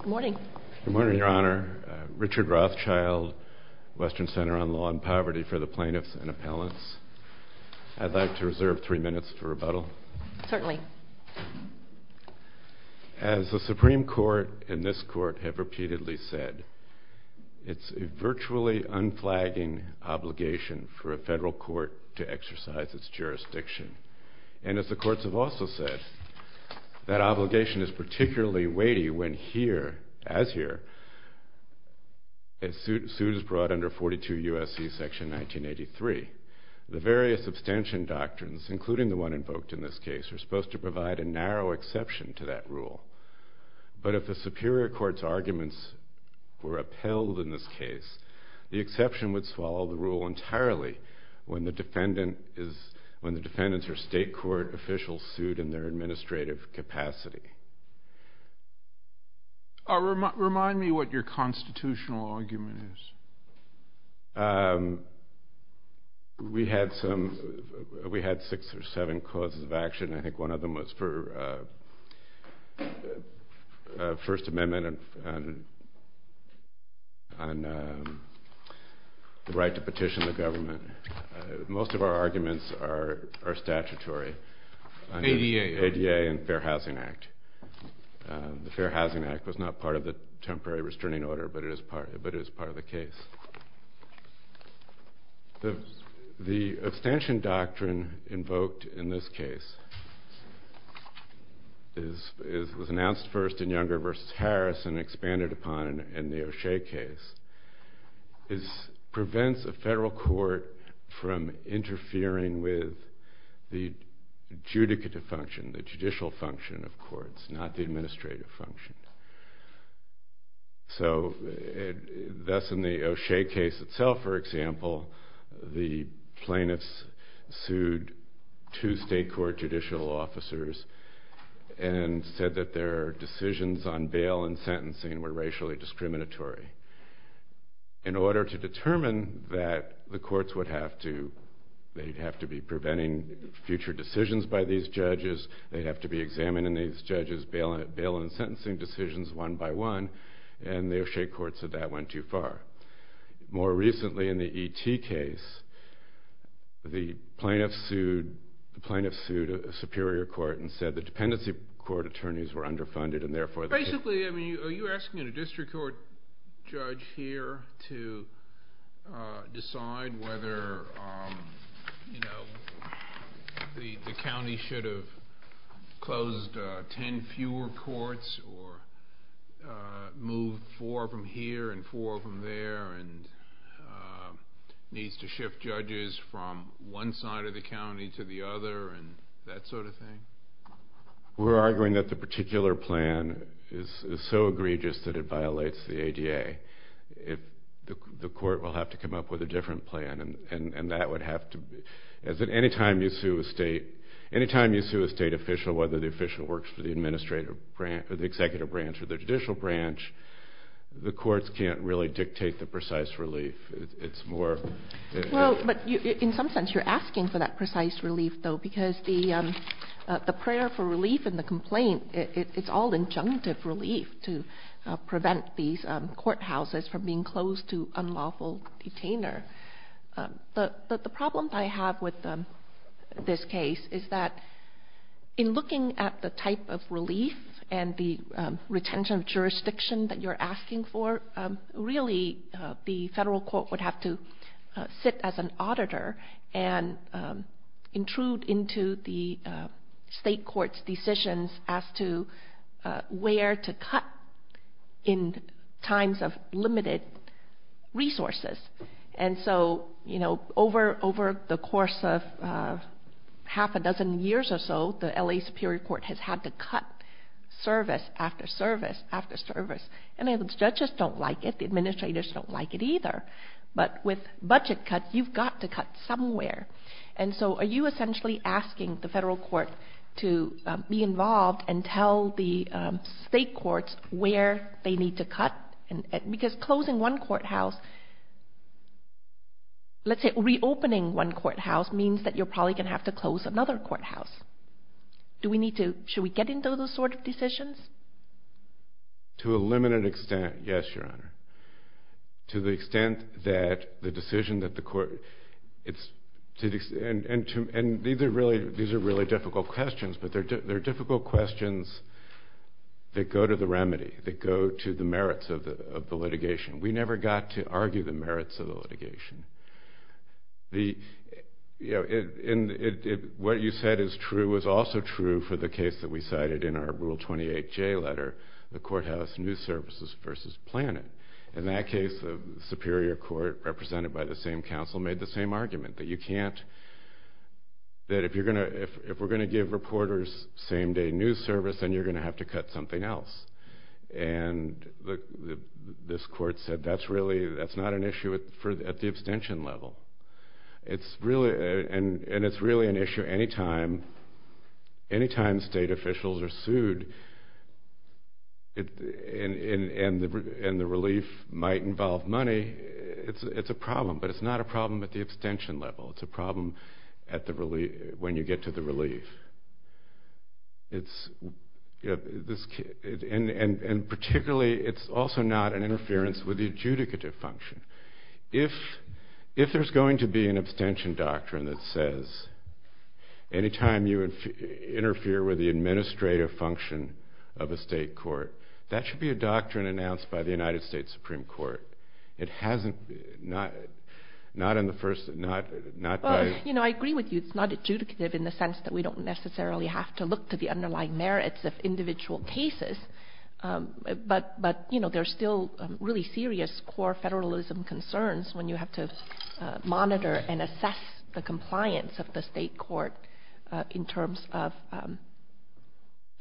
Good morning. Good morning, Your Honor. Richard Rothschild, Western Center on Law and Poverty for the Plaintiffs and Appellants. I'd like to reserve three minutes for rebuttal. Certainly. As the Supreme Court and this Court have repeatedly said, it's a virtually unflagging obligation for a federal court to exercise its jurisdiction. And as the courts have also said, that obligation is particularly weighty when here, as here, a suit is brought under 42 U.S.C. section 1983. The various abstention doctrines, including the one invoked in this case, are supposed to provide a narrow exception to that rule. But if the Superior Court's arguments were upheld in this case, the exception would swallow the rule entirely when the defendants are state court officials sued in their administrative capacity. Remind me what your constitutional argument is. We had six or seven causes of action. I think one of them was for First Amendment and the right to petition the government. Most of our arguments are statutory. ADA and Fair Housing Act. The Fair Housing Act was not part of the temporary restraining order, but it is part of the case. The abstention doctrine invoked in this case was announced first in Younger v. Harris and expanded upon in the O'Shea case. It prevents a federal court from interfering with the judicative function, the judicial function of courts, not the administrative function. Thus, in the O'Shea case itself, for example, the plaintiffs sued two state court judicial officers and said that their decisions on bail and sentencing were racially discriminatory. In order to determine that, the courts would have to be preventing future decisions by these judges. They'd have to be examining these judges' bail and sentencing decisions one by one, and the O'Shea courts said that went too far. More recently, in the E.T. case, the plaintiffs sued a Superior Court and said the dependency court attorneys were underfunded. Basically, are you asking a district court judge here to decide whether the county should have closed ten fewer courts or moved four from here and four from there and needs to shift judges from one side of the county to the other and that sort of thing? We're arguing that the particular plan is so egregious that it violates the ADA. The court will have to come up with a different plan, and that would have to be... anytime you sue a state official, whether the official works for the executive branch or the judicial branch, the courts can't really dictate the precise relief. It's more... But in some sense, you're asking for that precise relief, though, because the prayer for relief in the complaint, it's all injunctive relief to prevent these courthouses from being closed to unlawful detainer. The problem I have with this case is that in looking at the type of relief and the retention of jurisdiction that you're asking for, really the federal court would have to sit as an auditor and intrude into the state court's decisions as to where to cut in times of limited resources. And so over the course of half a dozen years or so, the LA Superior Court has had to cut service after service after service, and the judges don't like it, the administrators don't like it either. But with budget cuts, you've got to cut somewhere. And so are you essentially asking the federal court to be involved and tell the state courts where they need to cut? Because closing one courthouse, let's say reopening one courthouse, means that you're probably going to have to close another courthouse. Should we get into those sort of decisions? To a limited extent, yes, Your Honor. To the extent that the decision that the court... And these are really difficult questions, but they're difficult questions that go to the remedy, that go to the merits of the litigation. We never got to argue the merits of the litigation. What you said is true is also true for the case that we cited in our Rule 28J letter, the courthouse news services versus planning. In that case, the Superior Court, represented by the same counsel, made the same argument, that if we're going to give reporters same-day news service, then you're going to have to cut something else. And this court said that's not an issue at the abstention level. And it's really an issue anytime state officials are sued and the relief might involve money, it's a problem. But it's not a problem at the abstention level. It's a problem when you get to the relief. And particularly, it's also not an interference with the adjudicative function. If there's going to be an abstention doctrine that says anytime you interfere with the administrative function of a state court, that should be a doctrine announced by the United States Supreme Court. It hasn't, not in the first, not by... I agree with you. It's not adjudicative in the sense that we don't necessarily have to look to the underlying merits of individual cases. But there's still really serious core federalism concerns when you have to monitor and assess the compliance of the state court in terms of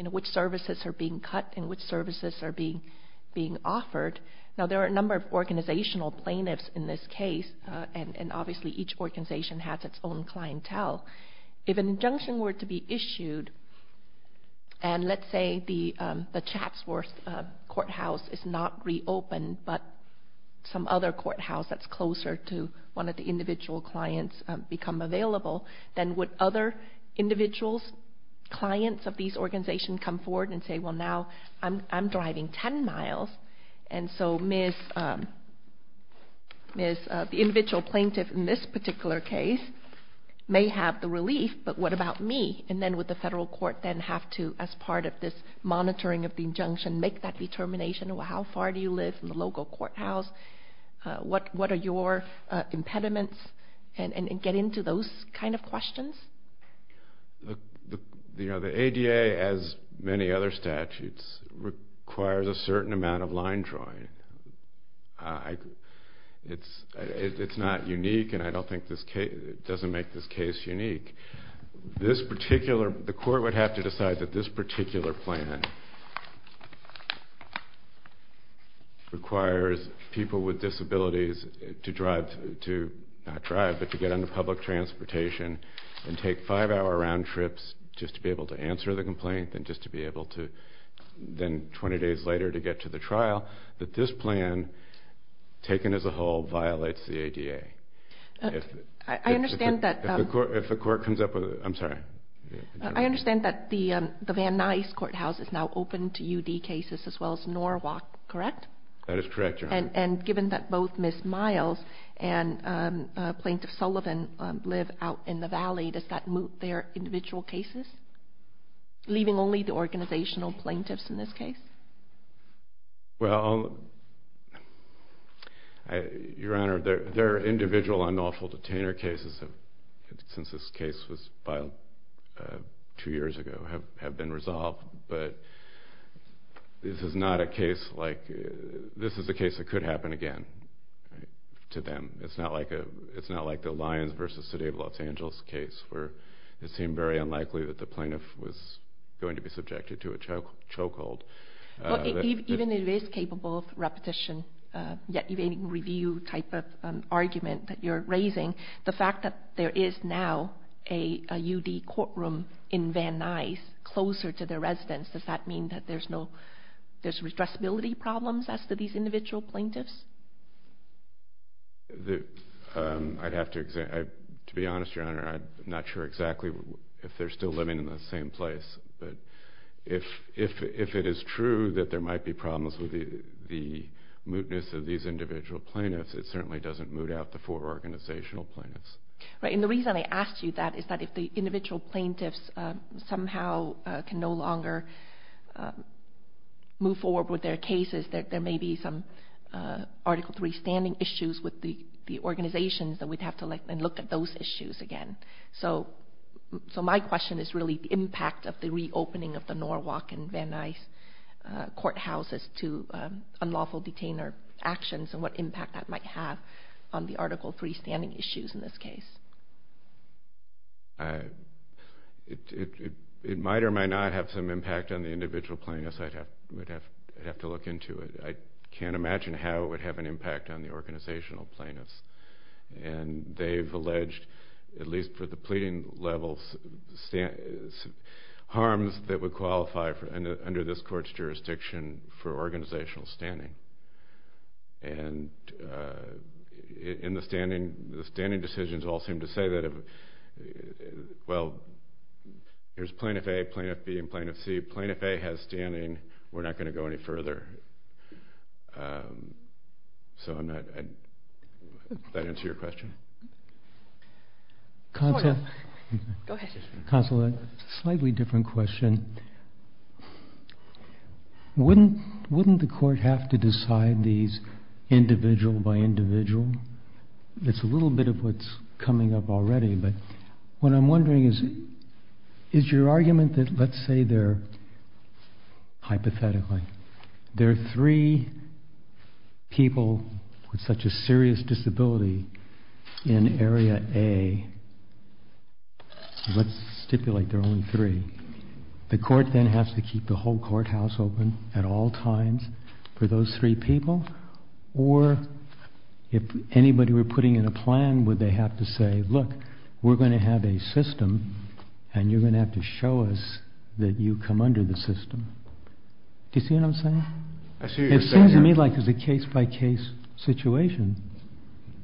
which services are being cut and which services are being offered. Now, there are a number of organizational plaintiffs in this case. And obviously, each organization has its own clientele. If an injunction were to be issued and let's say the Chatsworth Courthouse is not reopened but some other courthouse that's closer to one of the individual clients become available, then would other individuals, clients of these organizations come forward and say, well, now I'm driving 10 miles and so the individual plaintiff in this particular case may have the relief, but what about me? And then would the federal court then have to, as part of this monitoring of the injunction, make that determination? Well, how far do you live in the local courthouse? What are your impediments? And get into those kind of questions. The ADA, as many other statutes, requires a certain amount of line drawing. It's not unique and I don't think it doesn't make this case unique. The court would have to decide that this particular plan requires people with disabilities to drive, not drive, but to get into public transportation and take five-hour round trips just to be able to answer the complaint and then 20 days later to get to the trial, that this plan, taken as a whole, violates the ADA. I understand that the Van Nuys Courthouse is now open to UD cases as well as Norwalk, correct? That is correct, Your Honor. And given that both Ms. Miles and Plaintiff Sullivan live out in the valley, does that move their individual cases, leaving only the organizational plaintiffs in this case? Well, Your Honor, their individual unlawful detainer cases, since this case was filed two years ago, have been resolved. But this is not a case like, this is a case that could happen again to them. It's not like the Lyons v. City of Los Angeles case where it seemed very unlikely that the plaintiff was going to be subjected to a chokehold. Even if it is capable of repetition, yet even review type of argument that you're raising, the fact that there is now a UD courtroom in Van Nuys closer to their residence, does that mean that there's no, there's redressability problems as to these individual plaintiffs? I'd have to, to be honest, Your Honor, I'm not sure exactly if they're still living in the same place. But if it is true that there might be problems with the mootness of these individual plaintiffs, it certainly doesn't moot out the four organizational plaintiffs. Right, and the reason I asked you that is that if the individual plaintiffs somehow can no longer move forward with their cases, there may be some Article III standing issues with the organizations that we'd have to look at those issues again. So my question is really the impact of the reopening of the Norwalk and Van Nuys courthouses to unlawful detainer actions and what impact that might have on the Article III standing issues in this case. It might or might not have some impact on the individual plaintiffs. I'd have to look into it. I can't imagine how it would have an impact on the organizational plaintiffs. And they've alleged, at least for the pleading levels, harms that would qualify under this court's jurisdiction for organizational standing. And in the standing, the standing decisions all seem to say that, well, there's Plaintiff A, Plaintiff B, and Plaintiff C. Plaintiff A has standing. We're not going to go any further. So does that answer your question? Counsel. Go ahead. Counsel, a slightly different question. Wouldn't the court have to decide these individual by individual? It's a little bit of what's coming up already. But what I'm wondering is, is your argument that let's say they're, hypothetically, there are three people with such a serious disability in Area A. Let's stipulate there are only three. The court then has to keep the whole courthouse open at all times for those three people? Or if anybody were putting in a plan, would they have to say, look, we're going to have a system, and you're going to have to show us that you come under the system? Do you see what I'm saying? It seems to me like it's a case-by-case situation.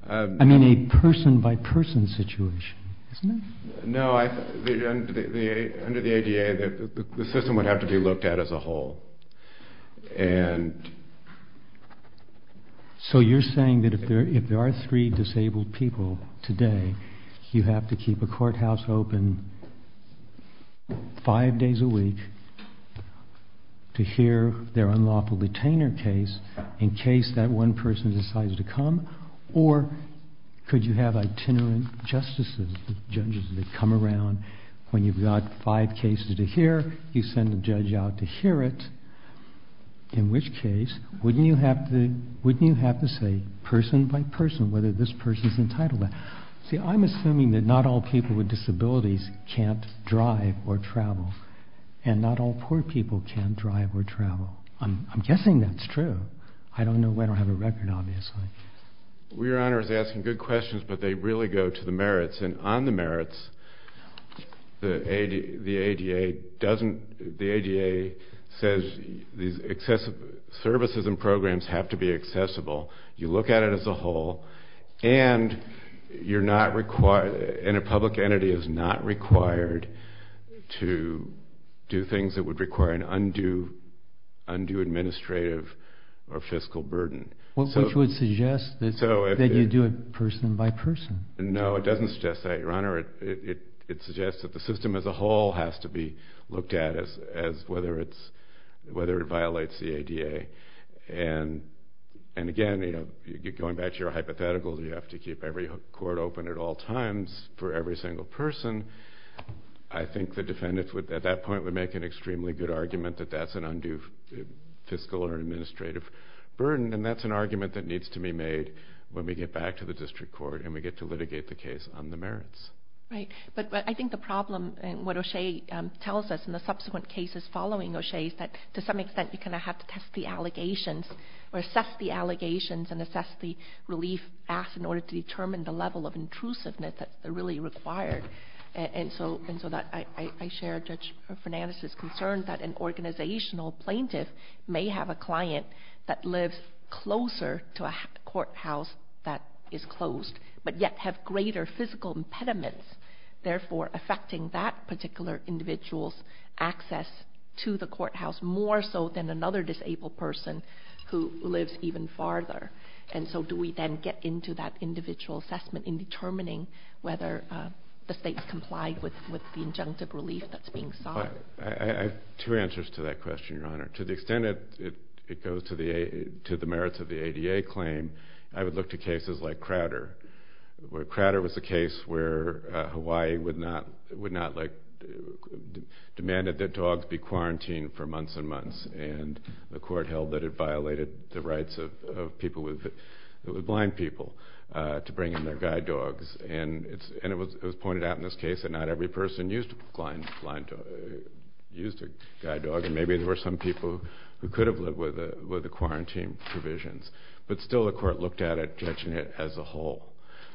I mean a person-by-person situation, isn't it? No, under the ADA, the system would have to be looked at as a whole. And so you're saying that if there are three disabled people today, you have to keep a courthouse open five days a week to hear their unlawful detainer case in case that one person decides to come? Or could you have itinerant justices, judges that come around when you've got five cases to hear? You send a judge out to hear it, in which case wouldn't you have to say person-by-person whether this person's entitled to that? See, I'm assuming that not all people with disabilities can't drive or travel, and not all poor people can't drive or travel. I'm guessing that's true. I don't know. I don't have a record, obviously. Your Honor is asking good questions, but they really go to the merits. And on the merits, the ADA says services and programs have to be accessible. You look at it as a whole, and a public entity is not required to do things that would require an undue administrative or fiscal burden. Which would suggest that you do it person-by-person. No, it doesn't suggest that, Your Honor. It suggests that the system as a whole has to be looked at as whether it violates the ADA. And again, going back to your hypothetical, you have to keep every court open at all times for every single person. I think the defendants at that point would make an extremely good argument that that's an undue fiscal or administrative burden, and that's an argument that needs to be made when we get back to the district court and we get to litigate the case on the merits. Right. But I think the problem, what O'Shea tells us in the subsequent cases following O'Shea, is that to some extent you kind of have to test the allegations or assess the allegations and assess the relief asked in order to determine the level of intrusiveness that's really required. And so I share Judge Fernandez's concern that an organizational plaintiff may have a client that lives closer to a courthouse that is closed but yet have greater physical impediments, therefore affecting that particular individual's access to the courthouse more so than another disabled person who lives even farther. And so do we then get into that individual assessment in determining whether the state's complied with the injunctive relief that's being sought? I have two answers to that question, Your Honor. To the extent it goes to the merits of the ADA claim, I would look to cases like Crowder, where Crowder was a case where Hawaii demanded that dogs be quarantined for months and months, and the court held that it violated the rights of people with blind people to bring in their guide dogs. And it was pointed out in this case that not every person used a guide dog, and maybe there were some people who could have lived with the quarantine provisions, but still the court looked at it, judging it as a whole.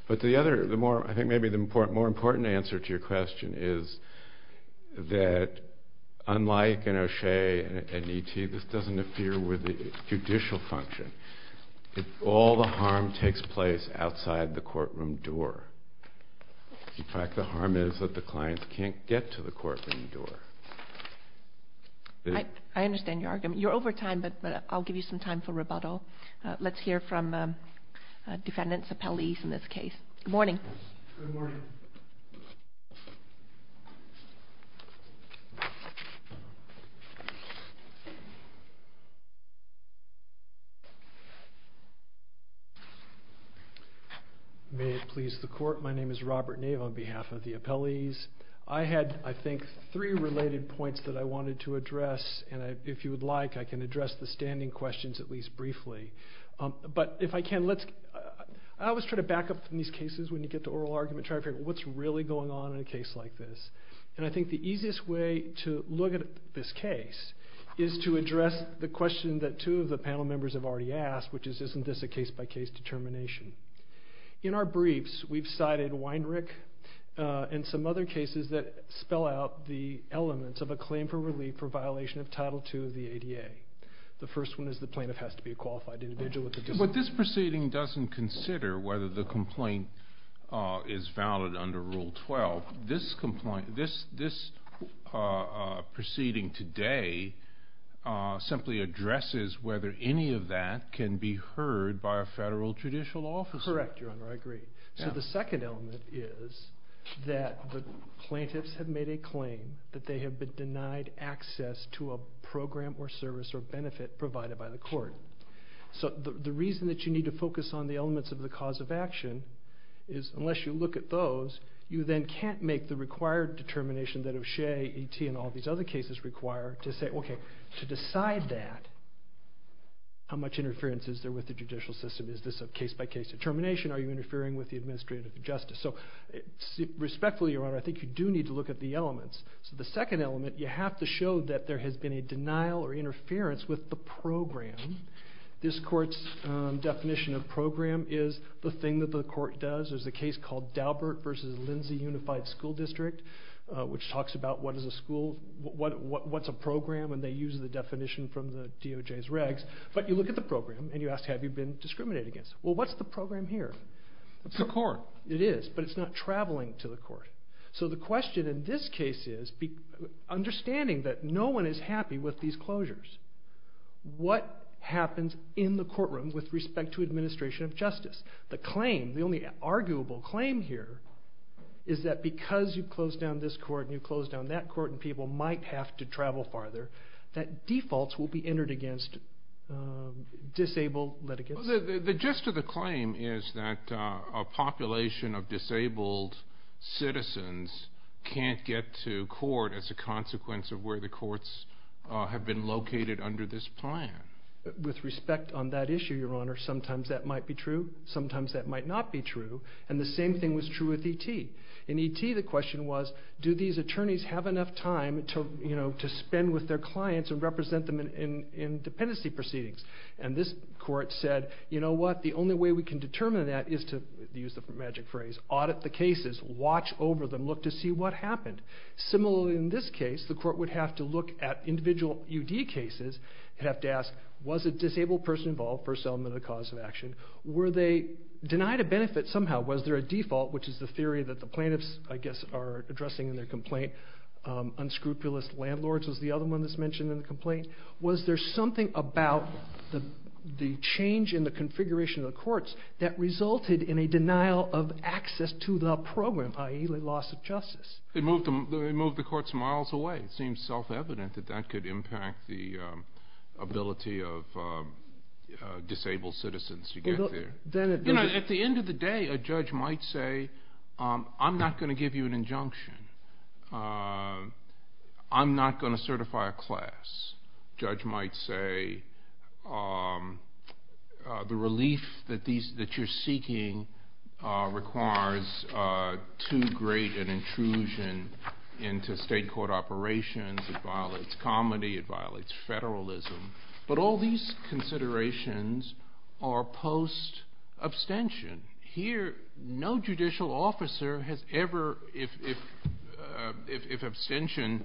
But I think maybe the more important answer to your question is that, unlike in O'Shea and E.T., this doesn't appear with the judicial function. All the harm takes place outside the courtroom door. In fact, the harm is that the clients can't get to the courtroom door. I understand your argument. You're over time, but I'll give you some time for rebuttal. Let's hear from defendants, appellees in this case. Good morning. Good morning. May it please the court, my name is Robert Nave on behalf of the appellees. I had, I think, three related points that I wanted to address, and if you would like I can address the standing questions at least briefly. But if I can, I always try to back up in these cases when you get to oral argument, and try to figure out what's really going on in a case like this. And I think the easiest way to look at this case is to address the question that two of the panel members have already asked, which is isn't this a case-by-case determination. In our briefs, we've cited Weinrich and some other cases that spell out the elements of a claim for relief for violation of Title II of the ADA. The first one is the plaintiff has to be a qualified individual. But this proceeding doesn't consider whether the complaint is valid under Rule 12. This proceeding today simply addresses whether any of that can be heard by a federal judicial officer. Correct, Your Honor, I agree. So the second element is that the plaintiffs have made a claim that they have been denied access to a program or service or benefit provided by the court. So the reason that you need to focus on the elements of the cause of action is unless you look at those, you then can't make the required determination that O'Shea, E.T., and all these other cases require to say, okay, to decide that, how much interference is there with the judicial system? Is this a case-by-case determination? Are you interfering with the administrative justice? So respectfully, Your Honor, I think you do need to look at the elements. So the second element, you have to show that there has been a denial or interference with the program. This court's definition of program is the thing that the court does. There's a case called Daubert v. Lindsay Unified School District, which talks about what's a program, and they use the definition from the DOJ's regs. But you look at the program, and you ask, have you been discriminated against? Well, what's the program here? It's the court. It is, but it's not traveling to the court. So the question in this case is, understanding that no one is happy with these closures, what happens in the courtroom with respect to administration of justice? The claim, the only arguable claim here, is that because you closed down this court and you closed down that court and people might have to travel farther, that defaults will be entered against disabled litigants. The gist of the claim is that a population of disabled citizens can't get to court as a consequence of where the courts have been located under this plan. With respect on that issue, Your Honor, sometimes that might be true. Sometimes that might not be true. And the same thing was true with E.T. In E.T., the question was, do these attorneys have enough time to spend with their clients and represent them in dependency proceedings? And this court said, you know what? The only way we can determine that is to, use the magic phrase, audit the cases, watch over them, look to see what happened. Similarly in this case, the court would have to look at individual U.D. cases and have to ask, was a disabled person involved? First element of the cause of action. Were they denied a benefit somehow? Was there a default, which is the theory that the plaintiffs, I guess, are addressing in their complaint? Unscrupulous landlords was the other one that's mentioned in the complaint. Was there something about the change in the configuration of the courts that resulted in a denial of access to the program, i.e., the loss of justice? It moved the courts miles away. It seems self-evident that that could impact the ability of disabled citizens to get there. At the end of the day, a judge might say, I'm not going to give you an injunction. I'm not going to certify a class. A judge might say, the relief that you're seeking requires too great an intrusion into state court operations. It violates comedy. It violates federalism. But all these considerations are post-abstention. Here, no judicial officer has ever, if abstention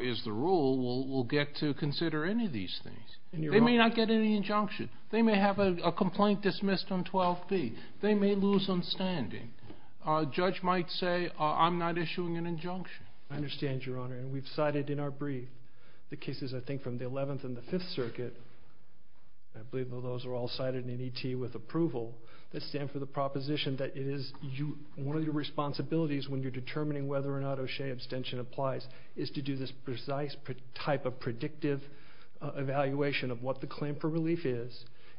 is the rule, will get to consider any of these things. They may not get any injunction. They may have a complaint dismissed on 12B. They may lose on standing. A judge might say, I'm not issuing an injunction. I understand, Your Honor, and we've cited in our brief the cases, I think, from the 11th and the 5th Circuit. I believe those are all cited in E.T. with approval. They stand for the proposition that it is one of your responsibilities when you're determining whether or not O'Shea abstention applies is to do this precise type of predictive evaluation of what the claim for relief is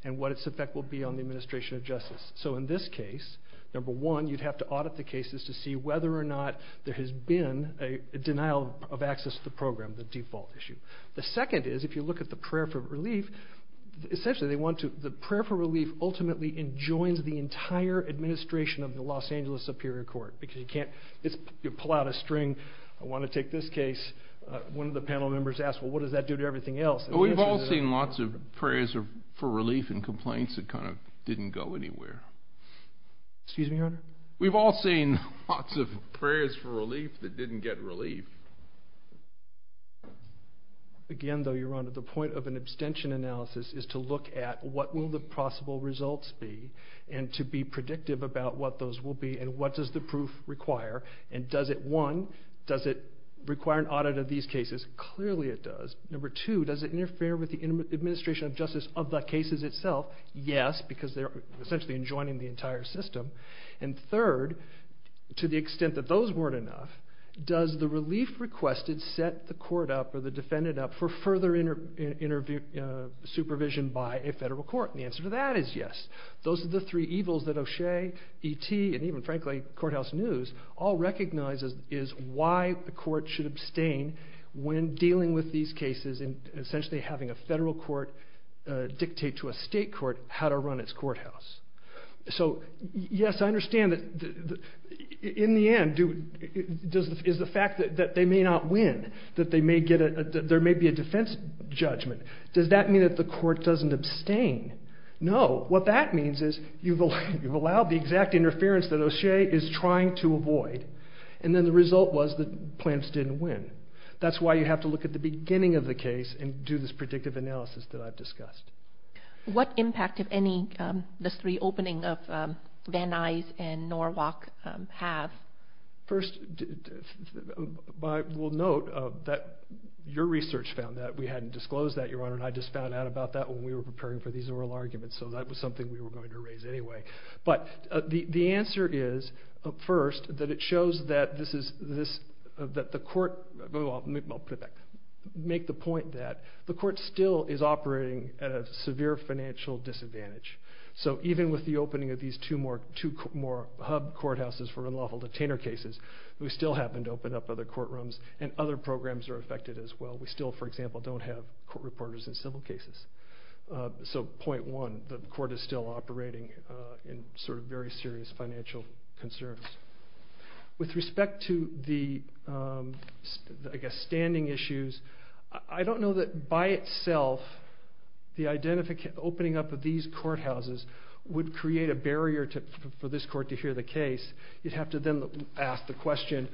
and what its effect will be on the administration of justice. So in this case, number one, you'd have to audit the cases to see whether or not there has been a denial of access to the program, the default issue. The second is, if you look at the prayer for relief, essentially they want to, the prayer for relief ultimately enjoins the entire administration of the Los Angeles Superior Court because you can't pull out a string. I want to take this case. One of the panel members asked, well, what does that do to everything else? Well, we've all seen lots of prayers for relief and complaints that kind of didn't go anywhere. Excuse me, Your Honor? We've all seen lots of prayers for relief that didn't get relief. Again, though, Your Honor, the point of an abstention analysis is to look at what will the possible results be and to be predictive about what those will be and what does the proof require. And does it, one, does it require an audit of these cases? Clearly it does. Number two, does it interfere with the administration of justice of the cases itself? Yes, because they're essentially enjoining the entire system. And third, to the extent that those weren't enough, does the relief requested set the court up or the defendant up for further supervision by a federal court? And the answer to that is yes. Those are the three evils that O'Shea, E.T., and even, frankly, Courthouse News all recognize is why the court should abstain when dealing with these cases and essentially having a federal court dictate to a state court how to run its courthouse. So, yes, I understand that in the end, is the fact that they may not win, that there may be a defense judgment, does that mean that the court doesn't abstain? No. What that means is you've allowed the exact interference that O'Shea is trying to avoid, and then the result was that plants didn't win. That's why you have to look at the beginning of the case and do this predictive analysis that I've discussed. What impact, if any, does the reopening of Van Nuys and Norwalk have? First, I will note that your research found that. We hadn't disclosed that, Your Honor, and I just found out about that when we were preparing for these oral arguments, so that was something we were going to raise anyway. I'll put it back. We still have severe financial disadvantage. So even with the opening of these two more hub courthouses for unlawful detainer cases, we still happen to open up other courtrooms, and other programs are affected as well. We still, for example, don't have court reporters in civil cases. So, point one, the court is still operating in sort of very serious financial concerns. With respect to the, I guess, standing issues, I don't know that, by itself, the opening up of these courthouses would create a barrier for this court to hear the case. You'd have to then ask the question,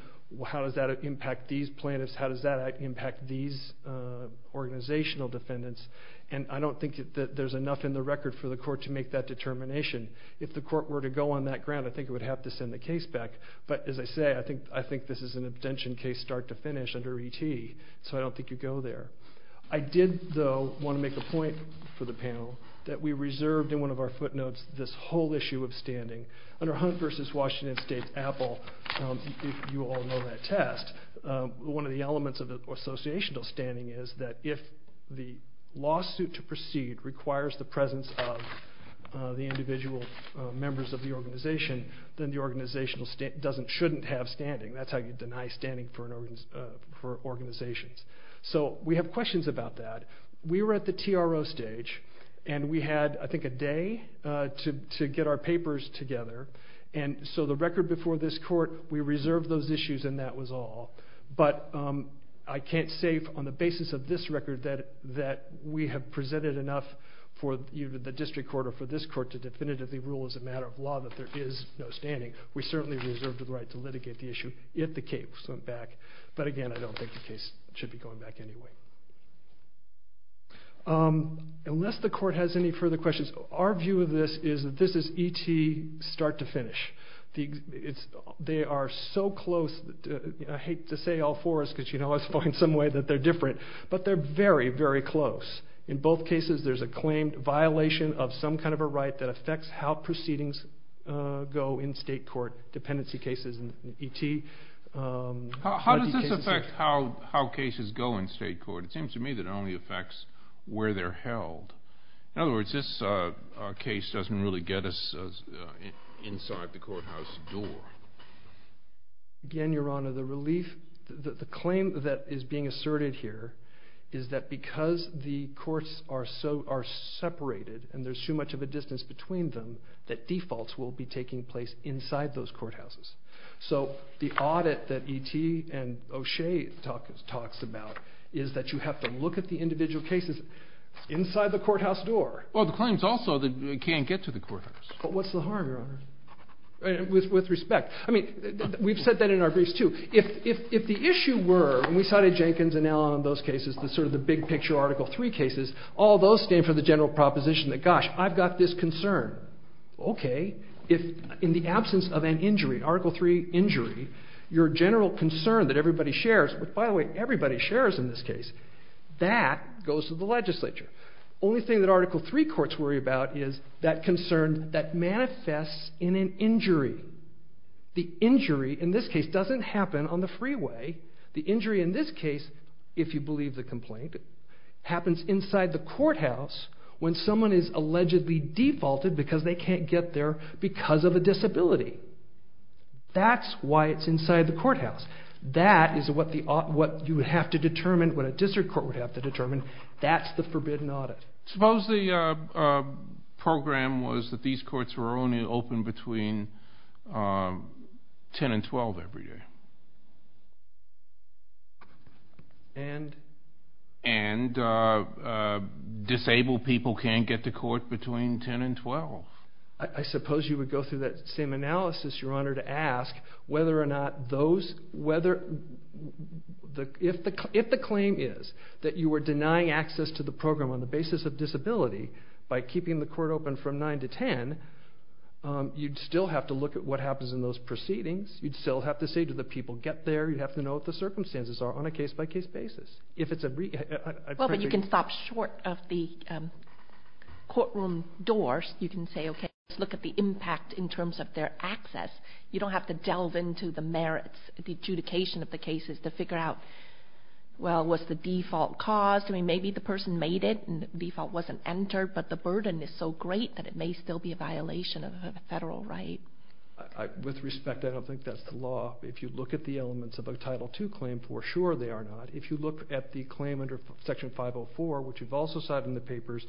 how does that impact these plaintiffs? How does that impact these organizational defendants? And I don't think that there's enough in the record for the court to make that determination. If the court were to go on that ground, I think it would have to send the case back. But, as I say, I think this is an abstention case start to finish under ET, so I don't think you'd go there. I did, though, want to make a point for the panel that we reserved in one of our footnotes this whole issue of standing. Under Hunt v. Washington State's Apple, you all know that test, one of the elements of associational standing is that if the lawsuit to proceed requires the presence of the individual members of the organization, then the organization doesn't, shouldn't have standing. That's how you deny standing for organizations. So we have questions about that. We were at the TRO stage, and we had, I think, a day to get our papers together. And so the record before this court, we reserved those issues, and that was all. But I can't say on the basis of this record that we have presented enough for the district court or for this court to definitively rule as a matter of law that there is no standing. We certainly reserved the right to litigate the issue if the case went back. But again, I don't think the case should be going back anyway. Unless the court has any further questions, our view of this is that this is E.T. start to finish. They are so close. I hate to say all fours, because you know I find some way that they're different. But they're very, very close. In both cases, there's a claimed violation of some kind of a right that affects how proceedings go in state court. Dependency cases in E.T. How does this affect how cases go in state court? It seems to me that it only affects where they're held. In other words, this case doesn't really get us inside the courthouse door. Again, Your Honor, the claim that is being asserted here is that because the courts are separated and there's too much of a distance between them, that defaults will be taking place inside those courthouses. So the audit that E.T. and O'Shea talks about is that you have to look at the individual cases inside the courthouse door. Well, the claim is also that you can't get to the courthouse. But what's the harm, Your Honor? With respect. I mean, we've said that in our briefs too. If the issue were, and we cited Jenkins and Allen on those cases, the sort of the big picture Article III cases, all those stand for the general proposition that, gosh, I've got this concern. Okay. If in the absence of an injury, Article III injury, your general concern that everybody shares, which, by the way, everybody shares in this case, that goes to the legislature. The only thing that Article III courts worry about is that concern that manifests in an injury. The injury in this case doesn't happen on the freeway. The injury in this case, if you believe the complaint, happens inside the courthouse when someone is allegedly defaulted because they can't get there because of a disability. That's why it's inside the courthouse. That is what you would have to determine, what a district court would have to determine. That's the forbidden audit. Suppose the program was that these courts were only open between 10 and 12 every day. And? And disabled people can't get to court between 10 and 12. I suppose you would go through that same analysis, Your Honor, to ask whether or not those... If the claim is that you were denying access to the program on the basis of disability by keeping the court open from 9 to 10, you'd still have to look at what happens in those proceedings. You'd still have to say, Do the people get there? You'd have to know what the circumstances are on a case-by-case basis. Well, but you can stop short of the courtroom doors. You can say, Okay, let's look at the impact in terms of their access. You don't have to delve into the merits, the adjudication of the cases to figure out, well, was the default caused? I mean, maybe the person made it and the default wasn't entered, but the burden is so great that it may still be a violation of a federal right. With respect, I don't think that's the law. If you look at the elements of a Title II claim, for sure they are not. If you look at the claim under Section 504, which you've also cited in the papers,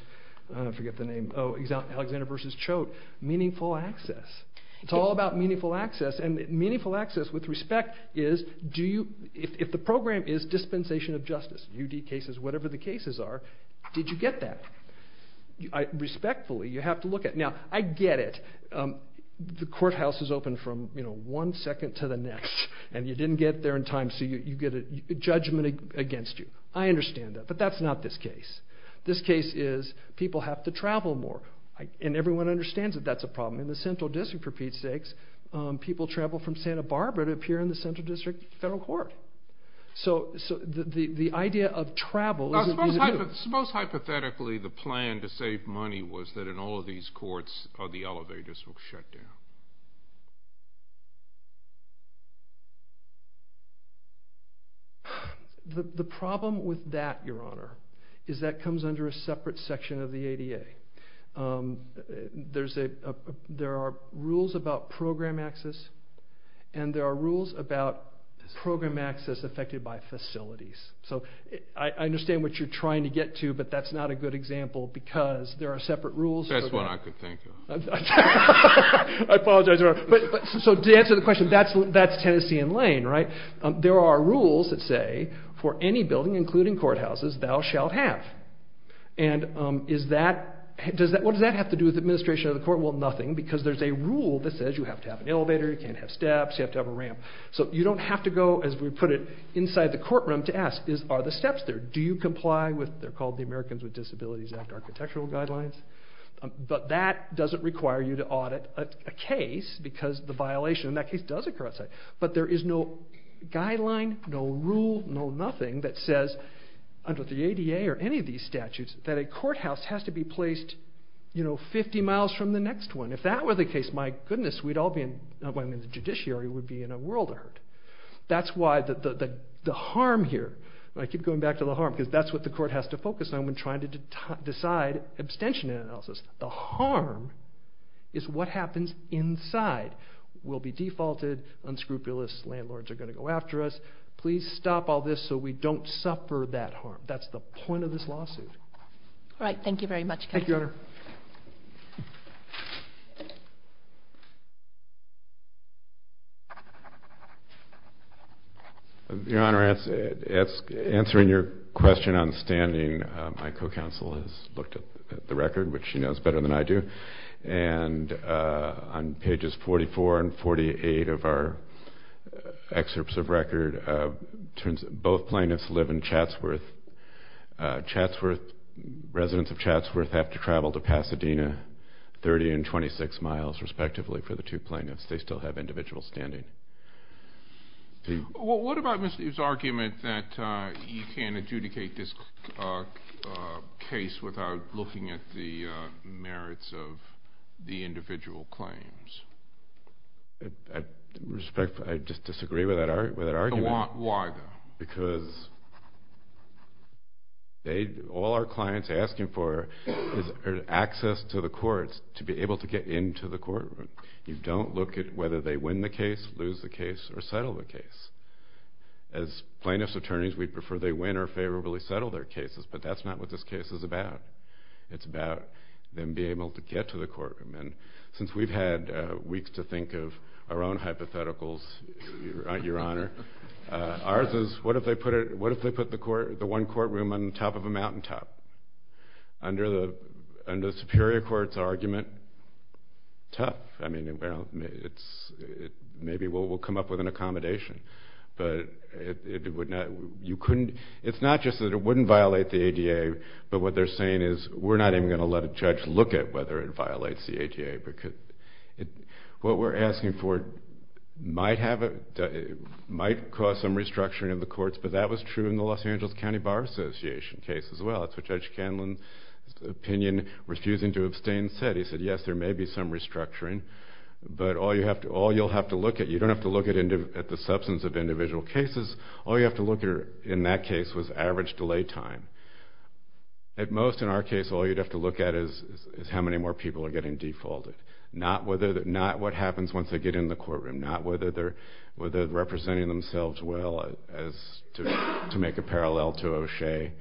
I forget the name, Alexander v. Choate, meaningful access. It's all about meaningful access, and meaningful access, with respect, is if the program is dispensation of justice, UD cases, whatever the cases are, did you get that? Respectfully, you have to look at it. Now, I get it. The courthouse is open from one second to the next, and you didn't get there in time, so you get a judgment against you. I understand that, but that's not this case. This case is people have to travel more, and everyone understands that that's a problem. In the Central District, for Pete's sakes, people travel from Santa Barbara to appear in the Central District Federal Court. So the idea of travel... Suppose hypothetically the plan to save money was that in all of these courts, the elevators would shut down. The problem with that, Your Honor, is that comes under a separate section of the ADA. There are rules about program access, and there are rules about program access affected by facilities. So I understand what you're trying to get to, but that's not a good example because there are separate rules. That's what I could think of. I apologize, Your Honor. So to answer the question, that's Tennessee and Lane, right? There are rules that say for any building, including courthouses, thou shalt have. And what does that have to do with administration of the court? Well, nothing, because there's a rule that says you have to have an elevator, you can't have steps, you have to have a ramp. So you don't have to go, as we put it, inside the courtroom to ask, are the steps there? Do you comply with, they're called the Americans with Disabilities Act architectural guidelines. But that doesn't require you to audit a case because the violation in that case does occur outside. But there is no guideline, no rule, no nothing that says under the ADA or any of these statutes that a courthouse has to be placed 50 miles from the next one. If that were the case, my goodness, we'd all be in, I mean, the judiciary would be in a world of hurt. That's why the harm here, and I keep going back to the harm, because that's what the court has to focus on when trying to decide abstention analysis. The harm is what happens inside. We'll be defaulted, unscrupulous landlords are going to go after us. Please stop all this so we don't suffer that harm. That's the point of this lawsuit. All right, thank you very much. Thank you, Your Honor. Your Honor, answering your question on standing, my co-counsel has looked at the record, which she knows better than I do. And on pages 44 and 48 of our excerpts of record, it turns out both plaintiffs live in Chatsworth. Chatsworth, residents of Chatsworth have to travel a long distance to get to Chatsworth. They have to travel to Pasadena, 30 and 26 miles, respectively, for the two plaintiffs. They still have individual standing. What about his argument that you can't adjudicate this case without looking at the merits of the individual claims? I just disagree with that argument. Why, though? Because all our clients are asking for is access to the courts to be able to get into the courtroom. You don't look at whether they win the case, lose the case, or settle the case. As plaintiffs' attorneys, we'd prefer they win or favorably settle their cases, but that's not what this case is about. It's about them being able to get to the courtroom. And since we've had weeks to think of our own hypotheticals, Your Honor, ours is what if they put the one courtroom on top of a mountaintop? Under the Superior Court's argument, tough. Maybe we'll come up with an accommodation. But it's not just that it wouldn't violate the ADA, but what they're saying is we're not even going to let a judge look at whether it violates the ADA. What we're asking for might cause some restructuring of the courts, but that was true in the Los Angeles County Bar Association case as well. That's what Judge Candland's opinion, refusing to abstain, said. He said, yes, there may be some restructuring, but all you'll have to look at, you don't have to look at the substance of individual cases, all you have to look at in that case was average delay time. At most in our case, all you'd have to look at is how many more people are getting defaulted, not what happens once they get in the courtroom, not whether they're representing themselves well to make a parallel to O'Shea,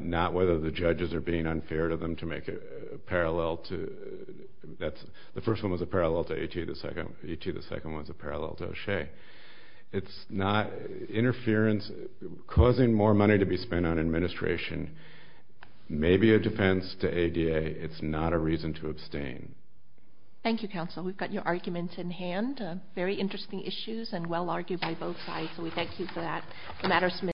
not whether the judges are being unfair to them to make a parallel. The first one was a parallel to E.T. The second one was a parallel to O'Shea. It's not interference causing more money to be spent on administration, maybe a defense to ADA. It's not a reason to abstain. Thank you, counsel. We've got your arguments in hand, very interesting issues and well-argued by both sides, so we thank you for that.